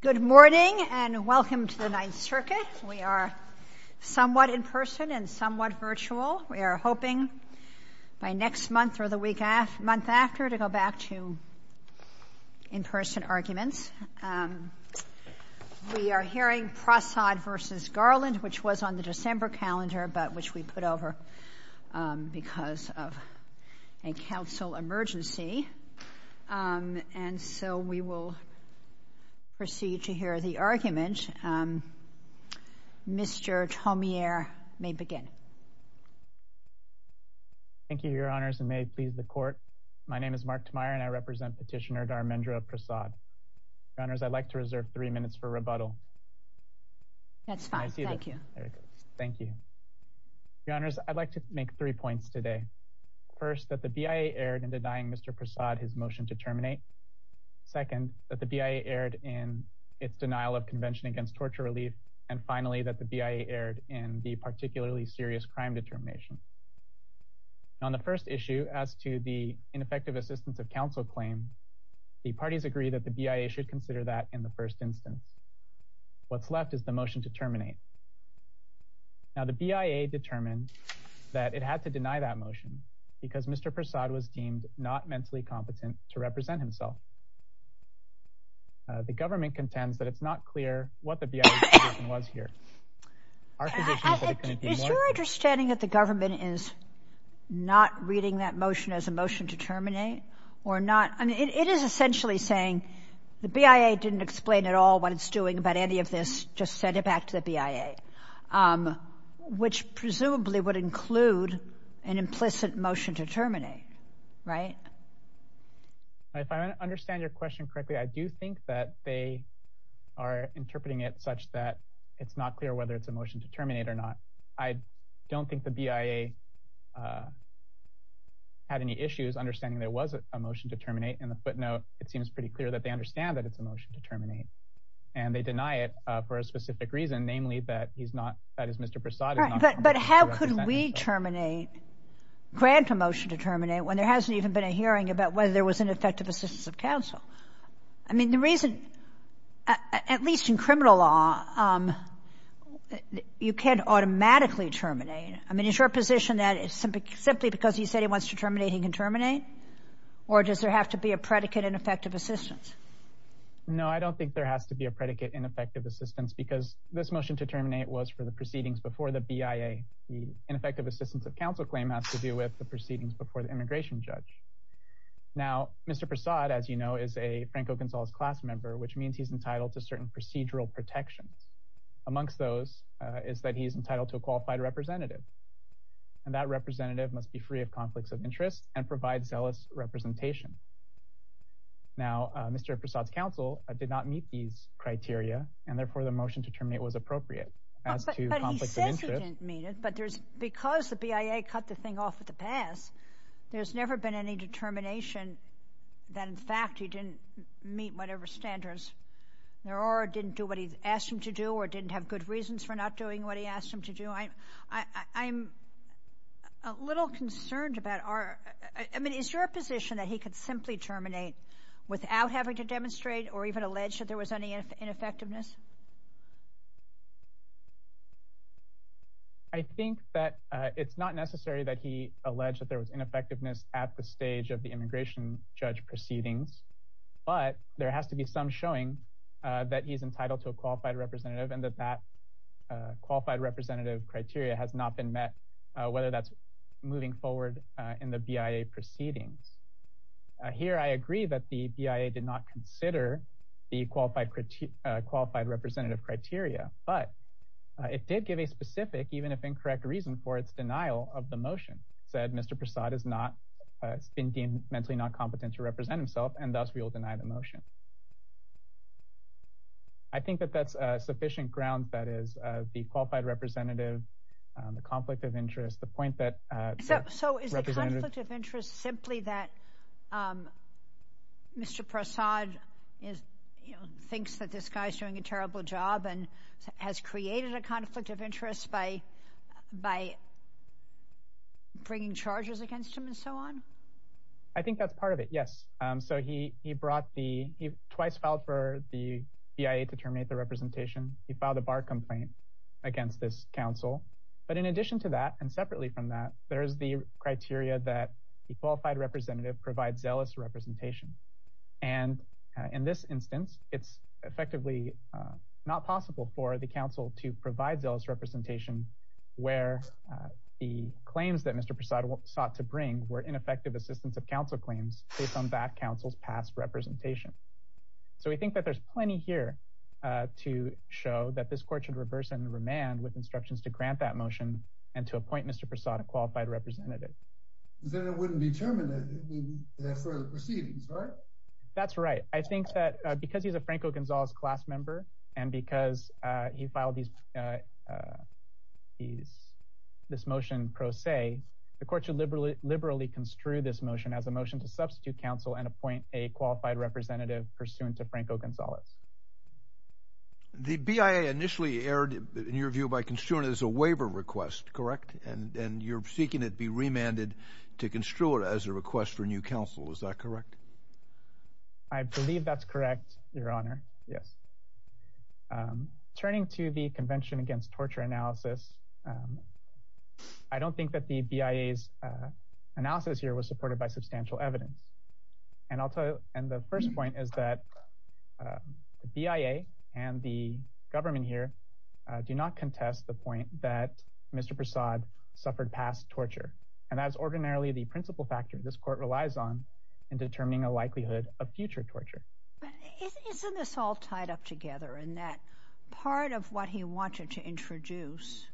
Good morning and welcome to the Ninth Circuit. We are somewhat in person and somewhat virtual. We are hoping by next month or the week after, month after, to go back to in-person arguments. We are hearing Prasad v. Garland, which was on the December calendar, but which we put over because of a council emergency. And so we will proceed to hear the argument. Mr. Taumier may begin. Thank you, Your Honors, and may it please the Court. My name is Mark Taumier and I represent Petitioner Dharmendra Prasad. Your Honors, I'd like to reserve three minutes for rebuttal. That's fine. Thank you. Thank you. Your Honors, I'd like to make three points today. First, that the BIA erred in denying Mr. Prasad his motion to terminate. Second, that the BIA erred in its denial of Convention Against Torture Relief. And finally, that the BIA erred in the particularly serious crime determination. On the first issue, as to the ineffective assistance of counsel claim, the parties agree that the BIA should consider that in the first instance. What's left is the motion to terminate. Now, the BIA determined that it had to deny that motion because Mr. Prasad was deemed not mentally competent to represent himself. The government contends that it's not clear what the BIA's position was here. Is your understanding that the government is not reading that motion as a motion to terminate or not? I mean, it is essentially saying the BIA didn't explain at all what Prasad's doing about any of this, just sent it back to the BIA, which presumably would include an implicit motion to terminate, right? If I understand your question correctly, I do think that they are interpreting it such that it's not clear whether it's a motion to terminate or not. I don't think the BIA had any issues understanding there was a motion to terminate. In the footnote, it seems pretty clear that they understand that it's a motion to terminate, and they deny it for a specific reason, namely that he's not, that is, Mr. Prasad is not. But how could we terminate, grant a motion to terminate, when there hasn't even been a hearing about whether there was an effective assistance of counsel? I mean, the reason, at least in criminal law, you can't automatically terminate. I mean, is your position that simply because he said he wants to terminate, he can terminate? Or does there have to be a predicate in effective assistance? No, I don't think there has to be a predicate in effective assistance, because this motion to terminate was for the proceedings before the BIA. The ineffective assistance of counsel claim has to do with the proceedings before the immigration judge. Now, Mr. Prasad, as you know, is a Franco Gonzalez class member, which means he's entitled to certain procedural protections. Amongst those is that he's entitled to a qualified representative, and that representative must be free of conflicts of interest and provide a zealous representation. Now, Mr. Prasad's counsel did not meet these criteria, and therefore, the motion to terminate was appropriate. As to conflicts of interest... But he says he didn't meet it, but there's, because the BIA cut the thing off at the pass, there's never been any determination that, in fact, he didn't meet whatever standards there are, didn't do what he asked him to do, or didn't have good reasons for not doing what he asked him to do. I'm a little concerned about our... I mean, is your position that he could simply terminate without having to demonstrate or even allege that there was any ineffectiveness? I think that it's not necessary that he allege that there was ineffectiveness at the stage of the immigration judge proceedings, but there has to be some showing that he's entitled to a qualified representative and that that qualified representative criteria has not been met, whether that's moving forward in the BIA proceedings. Here, I agree that the BIA did not consider the qualified representative criteria, but it did give a specific, even if incorrect, reason for its denial of the motion. It said, Mr. Prasad has been deemed mentally not competent to represent himself, and thus, we will deny the motion. I think that that's sufficient ground, that is, the qualified representative, the conflict of interest, the point that... So is the conflict of interest simply that Mr. Prasad thinks that this guy's doing a terrible job and has created a conflict of interest by bringing charges against him and so on? I think that's part of it, yes. So he brought the... He twice filed for the BIA to terminate the representation. He filed a bar complaint against this counsel, but in addition to that and separately from that, there's the criteria that the qualified representative provide zealous representation. And in this instance, it's effectively not possible for the counsel to provide zealous representation where the claims that Mr. Prasad sought to bring were ineffective assistance of counsel claims based on that counsel's past representation. So we think that there's plenty here to show that this court should reverse and remand with instructions to grant that motion and to appoint Mr. Prasad a qualified representative. Then it wouldn't be terminated in the further proceedings, right? That's right. I think that because he's a Franco Gonzalez class member and because he filed this motion pro se, the court should liberally construe this motion as a motion to substitute counsel and appoint a qualified representative pursuant to Franco Gonzalez. The BIA initially erred in your view by construing it as a waiver request, correct? And you're seeking it be remanded to construe it as a request for new counsel. Is that correct? I believe that's correct, Your Honor. Yes. Turning to the Convention Against Torture Analysis, I don't think that the BIA's analysis here was supported by substantial evidence. And the first point is that the BIA and the government here do not contest the point that Mr. Prasad suffered past torture. And as ordinarily the principle factor this court relies on in determining a likelihood of future torture. Isn't this all tied up together in that part of what he wanted to introduce,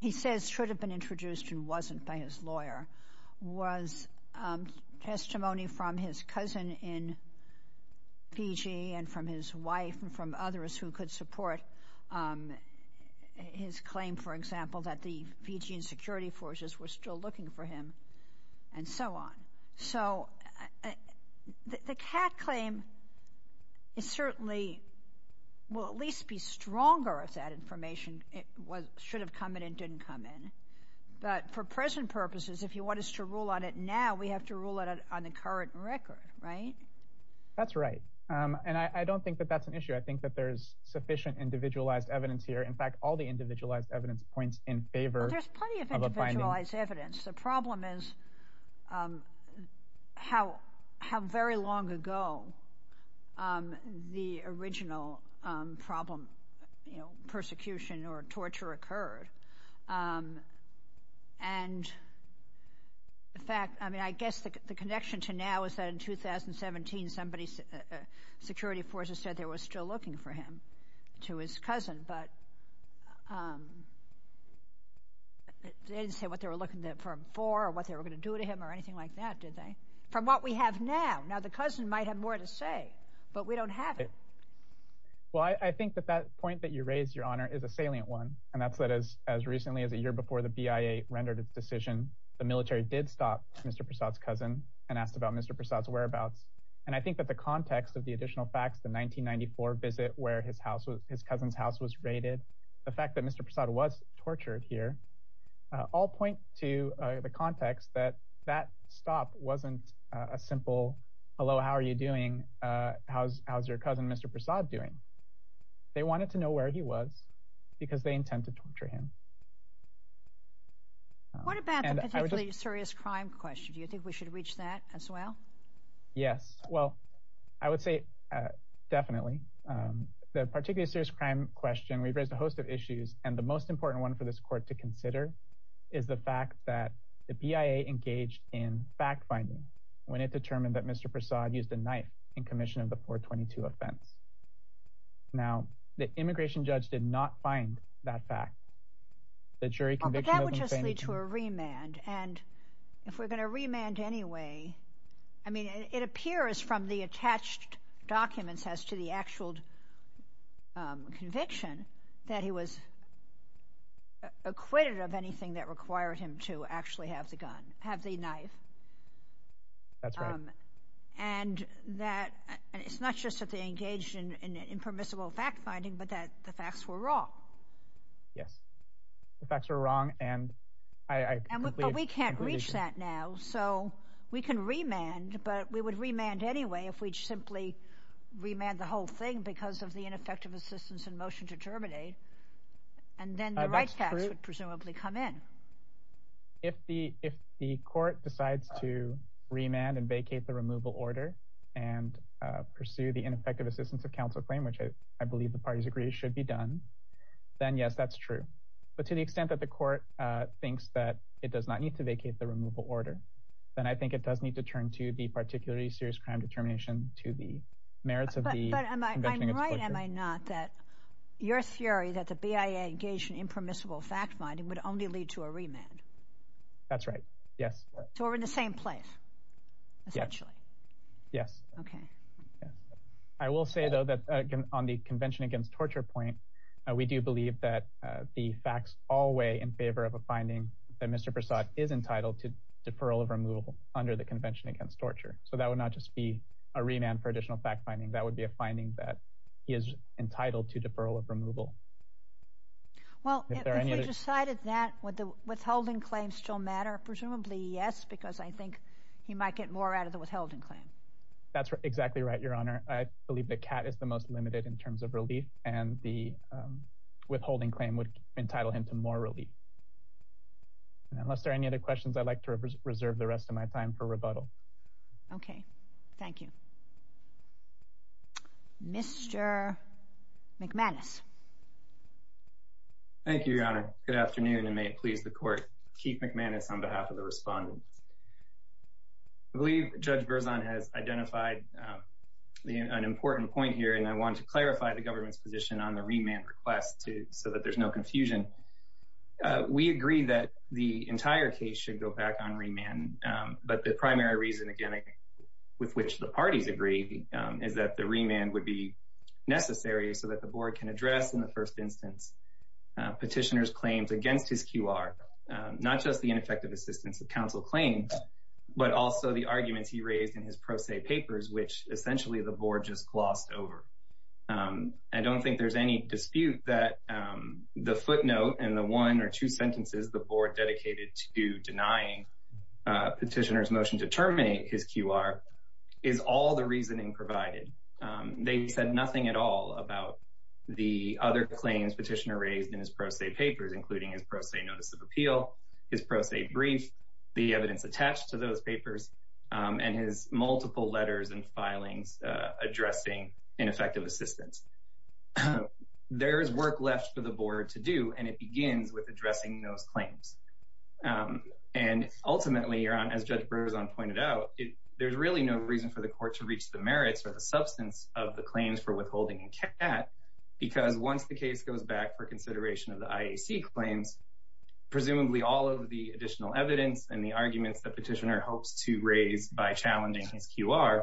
he says should have been introduced and wasn't by his lawyer, was testimony from his cousin in Fiji and from his wife and from others who could support his claim, for example, that the Fijian security forces were still looking for him and so on. So the CAC claim is certainly, will at least be stronger if that information should have come in and didn't come in. But for present purposes, if you want us to rule on it now, we have to rule it on the current record, right? That's right. And I don't think that that's an issue. I think that there's sufficient individualized evidence here. In fact, all the individualized evidence points in favor of a binding. Well, there's plenty of individualized evidence. The problem is how very long ago the original problem, you know, persecution or torture occurred. And in fact, I mean, I guess the connection to now is that in 2017, somebody's security forces said they were still looking for him to his cousin, but they didn't say what they were looking for him for or what they were going to do to him or anything like that, did they? From what we have now. Now, the cousin might have more to say, but we don't have it. Well, I think that that point that you raised, Your Honor, is a salient one. And that's that as recently as a year before the BIA rendered its decision, the military did stop Mr. Prasad's and asked about Mr. Prasad's whereabouts. And I think that the context of the additional facts, the 1994 visit where his house was, his cousin's house was raided, the fact that Mr. Prasad was tortured here, all point to the context that that stop wasn't a simple hello, how are you doing? How's your cousin, Mr. Prasad, doing? They wanted to know where he was because they intend to torture him. What about the particularly serious crime question? Do you think we should reach that as well? Yes. Well, I would say definitely. The particularly serious crime question, we've raised a host of issues, and the most important one for this court to consider is the fact that the BIA engaged in fact-finding when it determined that Mr. Prasad used a knife in commission of the 422 offense. Now, the immigration judge did not find that fact. The jury conviction of him stated- But that would just lead to a remand. And if we're going to remand anyway, I mean, it appears from the attached documents as to the actual conviction that he was acquitted of anything that required him to actually have the knife. That's right. And that it's not just that they engaged in impermissible fact-finding, but that the facts were wrong. Yes. The facts were wrong, and I completely- But we can't reach that now, so we can remand, but we would remand anyway if we'd simply remand the whole thing because of the ineffective assistance in motion to terminate, and then the right facts would presumably come in. If the court decides to remand and vacate the removal order and pursue the ineffective assistance of counsel claim, which I believe the parties agree should be done, then yes, that's true. But to the extent that the court thinks that it does not need to vacate the removal order, then I think it does need to turn to the particularly serious crime determination to the merits of the conviction of- But I'm right, am I not, that your theory that the BIA engaged in impermissible fact-finding would only lead to a remand? That's right. Yes. So we're in the same place, essentially. Yes. Okay. I will say, though, that on the Convention Against Torture point, we do believe that the facts all weigh in favor of a finding that Mr. Prasad is entitled to deferral of removal under the Convention Against Torture. So that would not just be a remand for additional fact-finding. That would be a finding that he is entitled to deferral of removal. Well, if we decided that, would the withholding claim still matter? Presumably yes, because I think he might get more out of the withholding claim. That's exactly right, Your Honor. I believe the cat is the most limited in terms of relief, and the withholding claim would entitle him to more relief. Unless there are any other questions, I'd like to reserve the rest of my time for rebuttal. Okay. Thank you. Mr. McManus. Thank you, Your Honor. Good afternoon, and may it please the Court. Keith McManus on behalf of the respondents. I believe Judge Berzon has identified an important point here, and I want to clarify the government's position on the remand request so that there's no confusion. We agree that the entire case should go back on remand, but the primary reason, again, with which the parties agree, is that the remand would be necessary so that the Board can address, in the first instance, petitioner's claims against his QR, not just the ineffective assistance that counsel claimed, but also the arguments he raised in his pro se papers, which essentially the Board just glossed over. I don't think there's any dispute that the footnote and the one or two sentences the Board dedicated to denying petitioner's motion to terminate his QR is all the reasoning provided. They said nothing at all about the other claims petitioner raised in his pro se papers, including his pro se notice of appeal, his pro se brief, the evidence attached to those papers, and his multiple letters and filings addressing ineffective assistance. There's work left for the Board to do, and it begins with addressing those claims. And ultimately, as Judge Berzon pointed out, there's really no reason for the Court to reach the merits or the substance of the claims for withholding that, because once the case goes back for consideration of the IAC claims, presumably all of the additional evidence and the arguments that petitioner hopes to raise by challenging his QR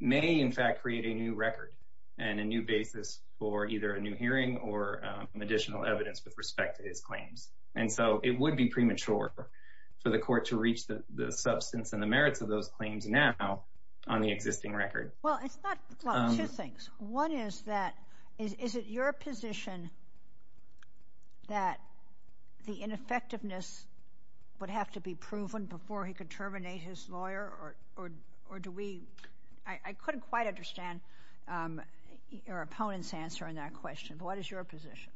may, in fact, create a new record and a new basis for either a new hearing or additional evidence with respect to his claims. And so it would be premature for the Court to reach the substance and the merits of those claims now on the existing record. Well, it's not – well, two things. One is that – is it your position that the ineffectiveness would have to be proven before he could terminate his lawyer, or do we – I couldn't quite understand your opponent's answer on that question, but what is your position?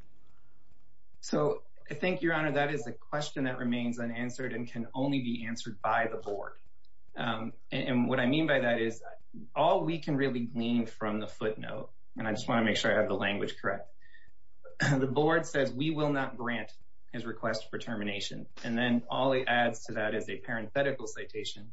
So I think, Your Honor, that is a question that remains unanswered and can only be answered by the Board. And what I mean by that is, all we can really glean from the footnote – and I just want to make sure I have the language correct – the Board says we will not grant his request for termination, and then all it adds to that is a parenthetical citation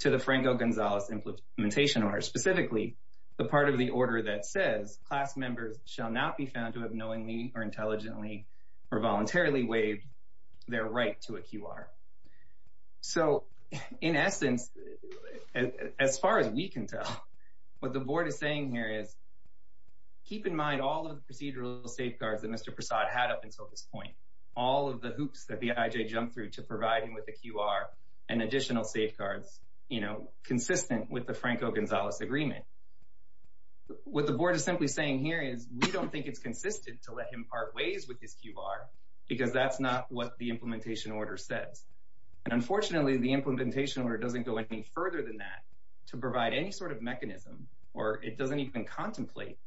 to the Franco-Gonzalez Implementation Order, specifically the part of the order that says, class members shall not be found to have knowingly or intelligently or voluntarily waived their right to a QR. So in essence, as far as we can tell, what the Board is saying here is, keep in mind all of the procedural safeguards that Mr. Prasad had up until this safeguards consistent with the Franco-Gonzalez Agreement. What the Board is simply saying here is, we don't think it's consistent to let him part ways with his QR because that's not what the Implementation Order says. And unfortunately, the Implementation Order doesn't go any further than that to provide any sort of mechanism, or it doesn't even contemplate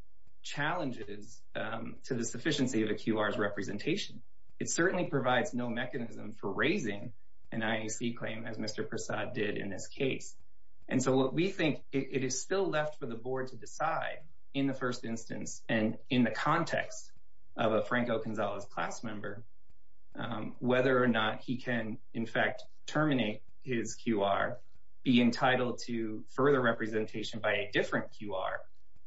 challenges to the sufficiency of a QR's representation. It certainly provides no mechanism for raising an IAC claim as Mr. Prasad did in this case. And so what we think, it is still left for the Board to decide in the first instance, and in the context of a Franco-Gonzalez class member, whether or not he can, in fact, terminate his QR, be entitled to further representation by a different QR,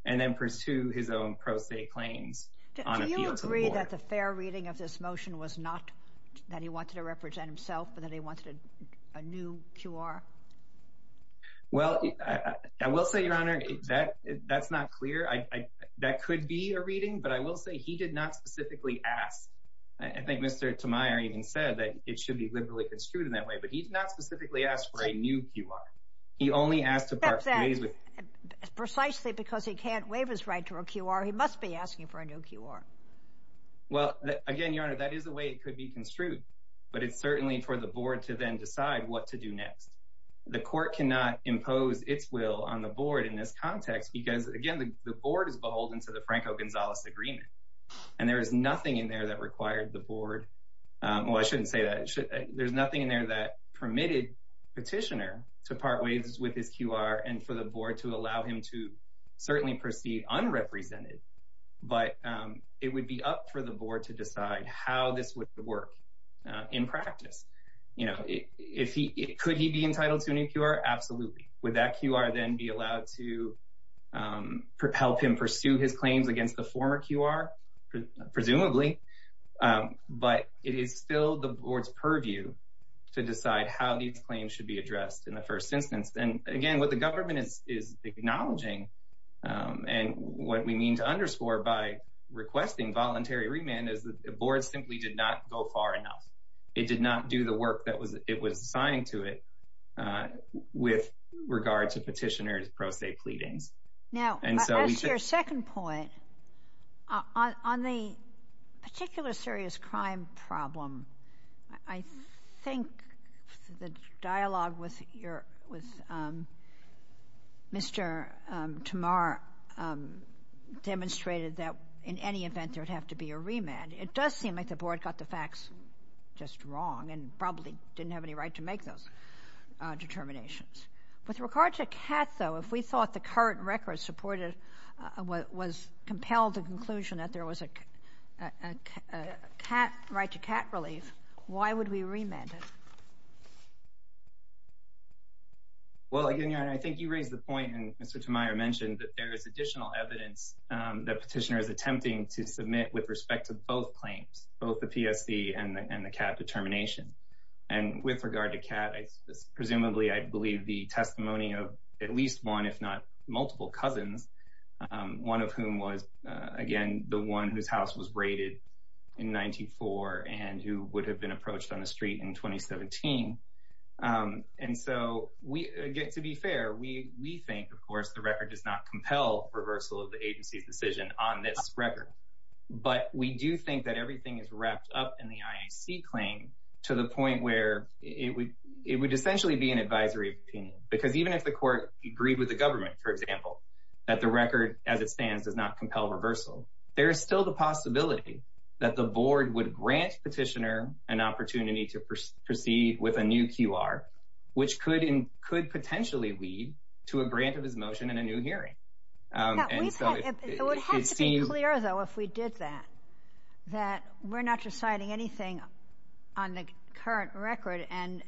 and then pursue his own pro se claims on appeal to the Board. Do you think that the fair reading of this motion was not that he wanted to represent himself, but that he wanted a new QR? Well, I will say, Your Honor, that's not clear. That could be a reading, but I will say he did not specifically ask. I think Mr. Tamayor even said that it should be liberally construed in that way, but he did not specifically ask for a new QR. He only asked to part ways with Precisely because he can't waive his right to a QR, he must be asking for a new QR. Well, again, Your Honor, that is the way it could be construed, but it's certainly for the Board to then decide what to do next. The Court cannot impose its will on the Board in this context because, again, the Board is beholden to the Franco-Gonzalez agreement, and there is nothing in there that required the Board, well I shouldn't say that, there's nothing in there that permitted the Petitioner to part ways with his QR and for the Board to allow him to certainly proceed unrepresented, but it would be up for the Board to decide how this would work in practice. Could he be entitled to a new QR? Absolutely. Would that QR then be allowed to help him pursue his claims against the former QR? Presumably, but it is still the Board's purview to decide how these claims should be addressed in the first instance. And again, what the government is acknowledging and what we mean to underscore by requesting voluntary remand is that the Board simply did not go far enough. It did not do the work that it was assigned to it with regard to Petitioner's pro se pleadings. Now, as to your second point, on the particular serious crime problem, I think the dialogue with Mr. Tamar demonstrated that in any event there would have to be a remand. It does seem like the Board got the facts just wrong and probably didn't have any right to make those determinations. With regard to CAT, though, if we thought the current record supported, was compelled to conclusion that there was a right to CAT relief, why would we remand it? Well, again, Your Honor, I think you raise the point and Mr. Tamar mentioned that there is additional evidence that Petitioner is attempting to submit with respect to both claims, both the PSC and the CAT determination. And with regard to CAT, presumably I believe the testimony of at least one, if not multiple cousins, one of whom was, again, the one whose house was raided in 1994 and who would have been approached on the street in 2017. And so, to be fair, we think, of course, the record does not compel reversal of the agency's decision on this record. But we do think that everything is wrapped up in the IAC claim to the point where it would essentially be an advisory opinion. Because even if the Court agreed with the government, for example, that the record as it stands does not compel reversal, there is still the possibility that the Board would grant Petitioner an opportunity to proceed with a new QR, which could potentially lead to a grant of his motion and a new hearing. It would have to be clear, though, if we did that, that we're not deciding anything on the current record and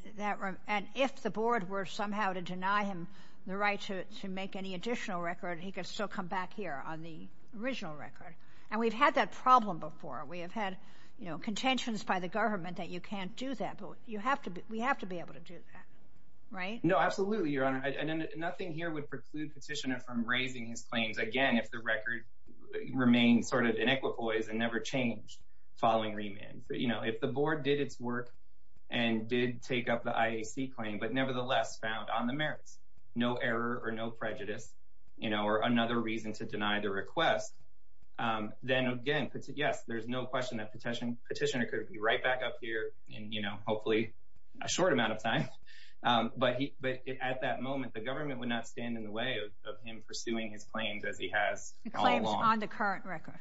if the Board were somehow to deny him the right to make any additional record, he could still come back here on the original record. And we've had that problem before. We have had contentions by the government that you can't do that, but we have to be able to do that, right? No, absolutely, Your Honor. Nothing here would preclude Petitioner from raising his claims again if the record remained sort of in equipoise and never changed following remand. If the Board did its work and did take up the IAC claim, but nevertheless found on the merits, no error or no prejudice, or another reason to deny the request, then again, yes, there's no question that Petitioner could be right back up here in, you know, hopefully a short amount of time. But at that moment, the government would not stand in the way of him pursuing his claims as he has all along. The claims on the current record.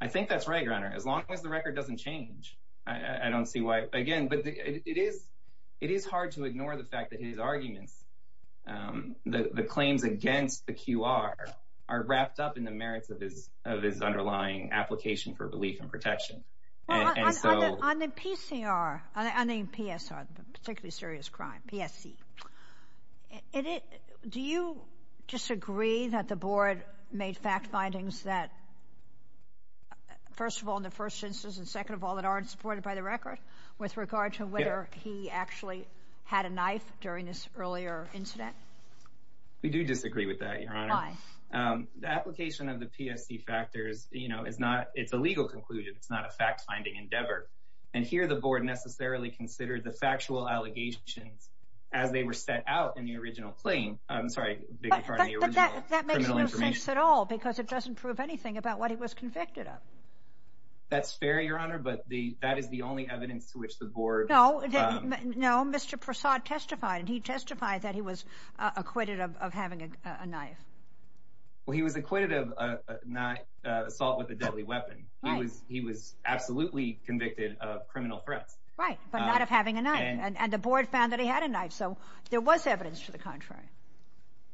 I think that's right, Your Honor. As long as the record doesn't change, I don't see why. Again, it is hard to ignore the fact that his arguments, the claims against the QR, are wrapped up in the merits of his underlying application for relief and protection. On the PCR, particularly serious crime, PSC, do you disagree that the Board made fact findings that, first of all, in the first instance, and second of all, that aren't supported by the record, with regard to whether he actually had a knife during this earlier incident? We do disagree with that, Your Honor. Why? The application of the PSC factors, you know, is not, it's a legal conclusion. It's not a fact-finding endeavor. And here the Board necessarily considered the factual allegations as they were set out in the original claim. I'm sorry. But that makes no sense at all because it doesn't prove anything about what he was convicted of. That's fair, Your Honor, but that is the only evidence to which the Board... No, Mr. Prasad testified, and he testified that he was acquitted of having a knife. Well, he was acquitted of assault with a deadly weapon. He was absolutely convicted of criminal threats. Right, but not of having a knife. And the Board found that he had a knife, so there was evidence to the contrary.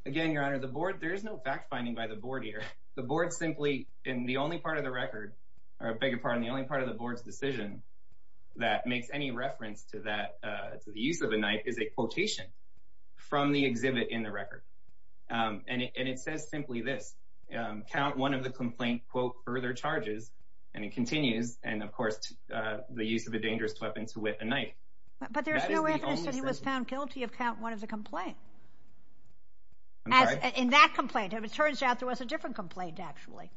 Again, Your Honor, the Board, there is no fact-finding by the Board here. The Board simply, in the only part of the record, or I beg your pardon, the only part of the Board's decision that makes any reference to the use of a knife is a quotation from the exhibit in the record. And it says simply this, count one of the complaint, quote, further charges, and it continues, and, of course, the use of a dangerous weapon to wit a knife. But there is no evidence that he was found guilty of count one of the complaint. I'm sorry? In that complaint. It turns out there was a different complaint, actually.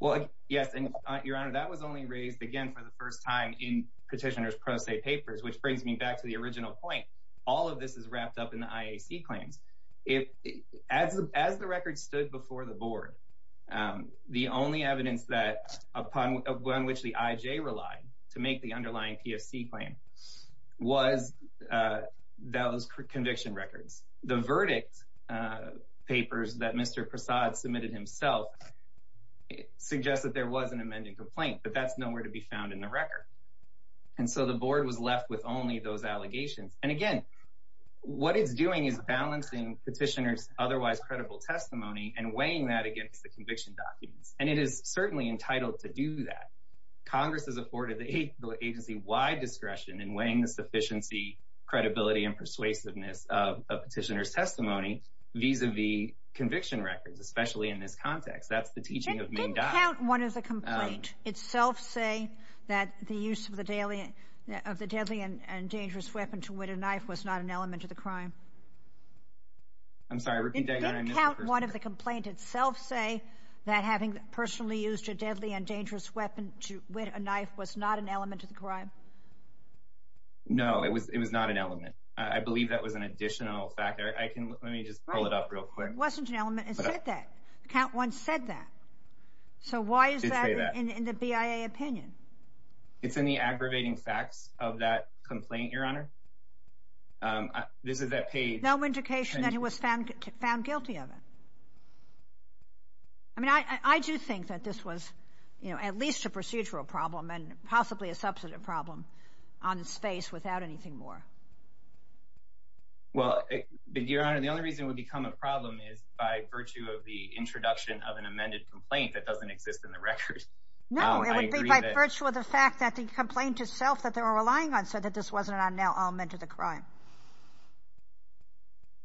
Well, yes, and Your Honor, that was only raised, again, for the first time in Petitioner's Pro Se papers, which brings me back to the original point. All of this is wrapped up in the IAC claims. As the record stood before the Board, the only evidence upon which the IJ relied to make the underlying PFC claim was those conviction records. The verdict papers that Mr. Prasad submitted himself suggest that there was an amended complaint, but that's nowhere to be found in the record. And so the Board was left with only those allegations. And again, what it's doing is balancing Petitioner's otherwise credible testimony and weighing that against the conviction documents. And it is certainly entitled to do that. Congress has afforded the agency wide discretion in weighing the sufficiency, the credibility, and persuasiveness of Petitioner's testimony vis-à-vis conviction records, especially in this context. That's the teaching of Ming Dai. It didn't count one of the complaint itself say that the use of the deadly and dangerous weapon to whet a knife was not an element of the crime? I'm sorry, repeat that again. It didn't count one of the complaint itself say that having personally used a deadly No, it was not an element. I believe that was an additional factor. Let me just pull it up real quick. It wasn't an element. It said that. The count once said that. So why is that in the BIA opinion? It's in the aggravating facts of that complaint, Your Honor. This is that page. No indication that he was found guilty of it. I mean, I do think that this was, you know, at least a procedural problem and possibly a substantive problem on its face without anything more. Well, Your Honor, the only reason it would become a problem is by virtue of the introduction of an amended complaint that doesn't exist in the records. No, it would be by virtue of the fact that the complaint itself that they were relying on said that this wasn't an element of the crime.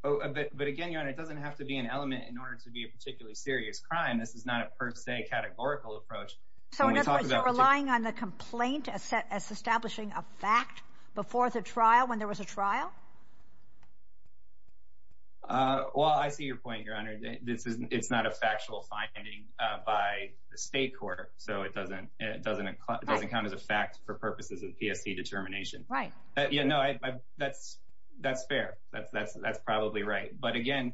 But again, Your Honor, it doesn't have to be an element in order to be a particularly serious crime. This is not a per se categorical approach. So in other words, you're relying on the complaint as establishing a fact before the trial, when there was a trial? Well, I see your point, Your Honor. It's not a factual finding by the state court. So it doesn't count as a fact for purposes of PSC determination. Right. Yeah, no, that's fair. That's probably right. But again,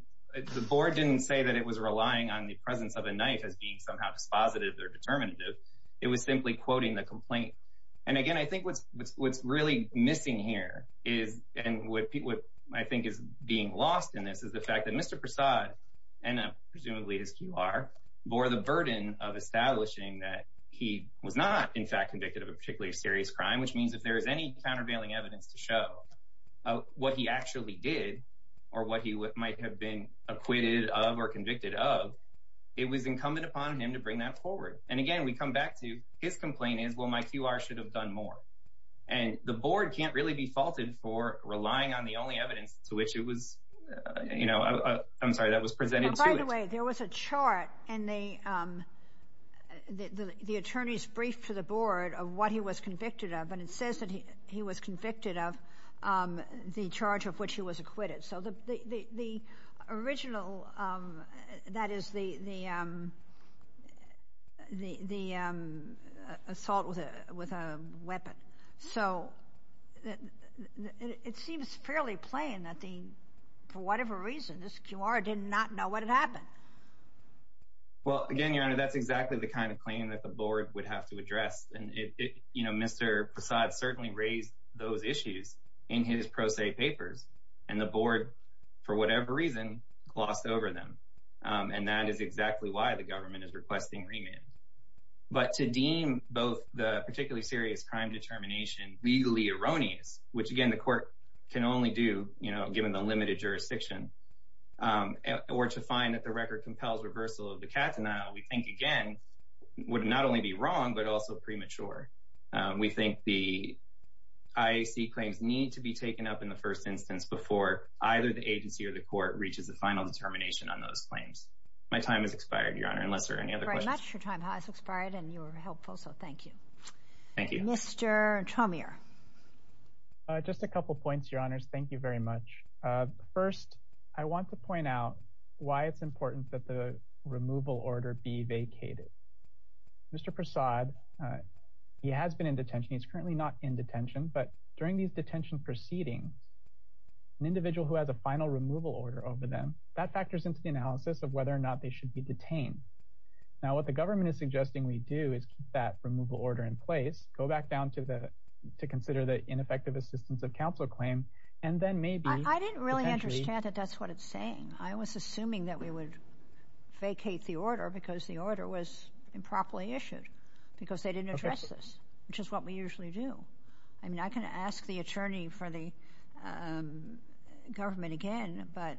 the board didn't say that it was relying on the presence of a knife as being somehow dispositive or determinative. It was simply quoting the complaint. And again, I think what's really missing here and what I think is being lost in this is the fact that Mr. Prasad and presumably his Q.R. bore the burden of establishing that he was not in fact convicted of a particularly serious crime, which means if there is any countervailing evidence to show what he actually did or what he might have been acquitted of or convicted of, it was incumbent upon him to bring that forward. And again, we come back to his complaint is, well, my Q.R. should have done more. And the board can't really be faulted for relying on the only evidence to which it was, you know, I'm sorry, that was presented to it. By the way, there was a chart in the attorney's brief to the board of what he was convicted of, and it says that he was convicted of the charge of which he was acquitted. So the original, that is, the assault with a weapon. So it seems fairly plain that the, for whatever reason, this Q.R. did not know what had happened. Well, again, Your Honor, that's exactly the kind of claim that the board would have to address. And, you know, Mr. Prasad certainly raised those issues in his pro se papers, and the board, for whatever reason, glossed over them. And that is exactly why the government is requesting remand. But to deem both the particularly serious crime determination legally erroneous, which, again, the court can only do, you know, given the limited jurisdiction, or to find that the record compels reversal of the catanal, we think, again, would not only be wrong but also premature. We think the IAC claims need to be taken up in the first instance before either the agency or the court reaches a final determination on those claims. My time has expired, Your Honor, unless there are any other questions. Thank you very much. Your time has expired, and you were helpful, so thank you. Thank you. Mr. Chomier. Just a couple points, Your Honors. Thank you very much. First, I want to point out why it's important that the removal order be vacated. Mr. Prasad, he has been in detention. He's currently not in detention. But during these detention proceedings, an individual who has a final removal order over them, that factors into the analysis of whether or not they should be detained. Now, what the government is suggesting we do is keep that removal order in place, go back down to consider the ineffective assistance of counsel claim, and then maybe potentially— I didn't really understand that that's what it's saying. I was assuming that we would vacate the order because the order was improperly issued, because they didn't address this, which is what we usually do. I'm not going to ask the attorney for the government again, but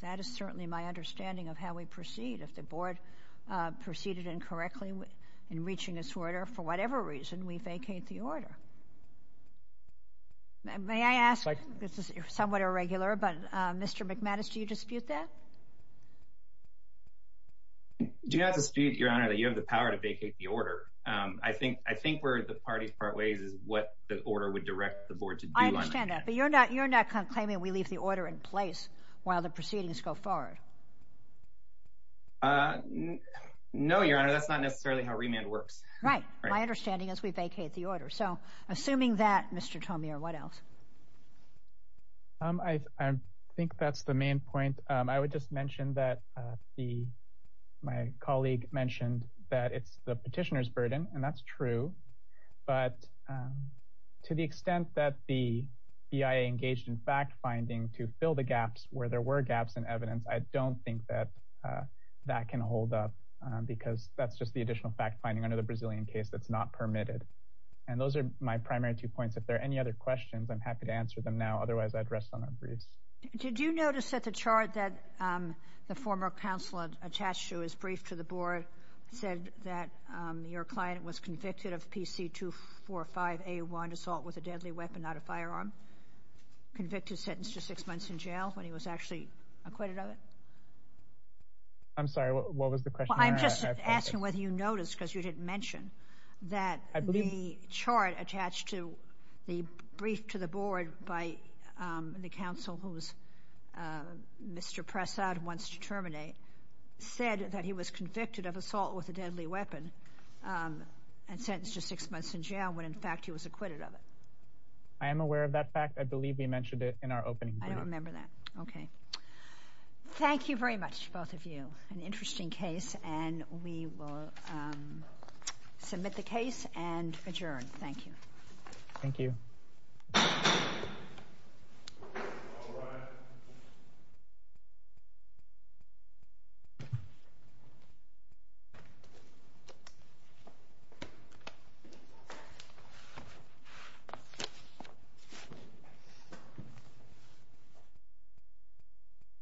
that is certainly my understanding of how we proceed. If the board proceeded incorrectly in reaching this order, for whatever reason, we vacate the order. May I ask—this is somewhat irregular, but Mr. McManus, do you dispute that? Do you have to dispute, Your Honor, that you have the power to vacate the order? I think where the parties part ways is what the order would direct the board to do. I understand that, but you're not conclaiming we leave the order in place while the proceedings go forward? No, Your Honor, that's not necessarily how remand works. Right. My understanding is we vacate the order. So, assuming that, Mr. Tomiyo, what else? I think that's the main point. I would just mention that my colleague mentioned that it's the petitioner's burden, and that's true, but to the extent that the BIA engaged in fact-finding to fill the gaps where there were gaps in evidence, I don't think that that can hold up because that's just the additional fact-finding under the Brazilian case that's not permitted. And those are my primary two points. If there are any other questions, I'm happy to answer them now. Otherwise, I'd rest on my briefs. Did you notice that the chart that the former counselor attached to his brief to the board said that your client was convicted of PC-245A1, assault with a deadly weapon, not a firearm? Convicted sentence to six months in jail when he was actually acquitted of it? I'm sorry, what was the question? I'm just asking whether you noticed because you didn't mention that the chart attached to the brief to the board by the counsel who Mr. Prasad wants to terminate said that he was convicted of assault with a deadly weapon and sentenced to six months in jail when, in fact, he was acquitted of it. I am aware of that fact. I believe we mentioned it in our opening briefing. I don't remember that. Okay. Thank you very much, both of you. An interesting case, and we will submit the case and adjourn. Thank you. Thank you. Thank you. Thank you. Thank you.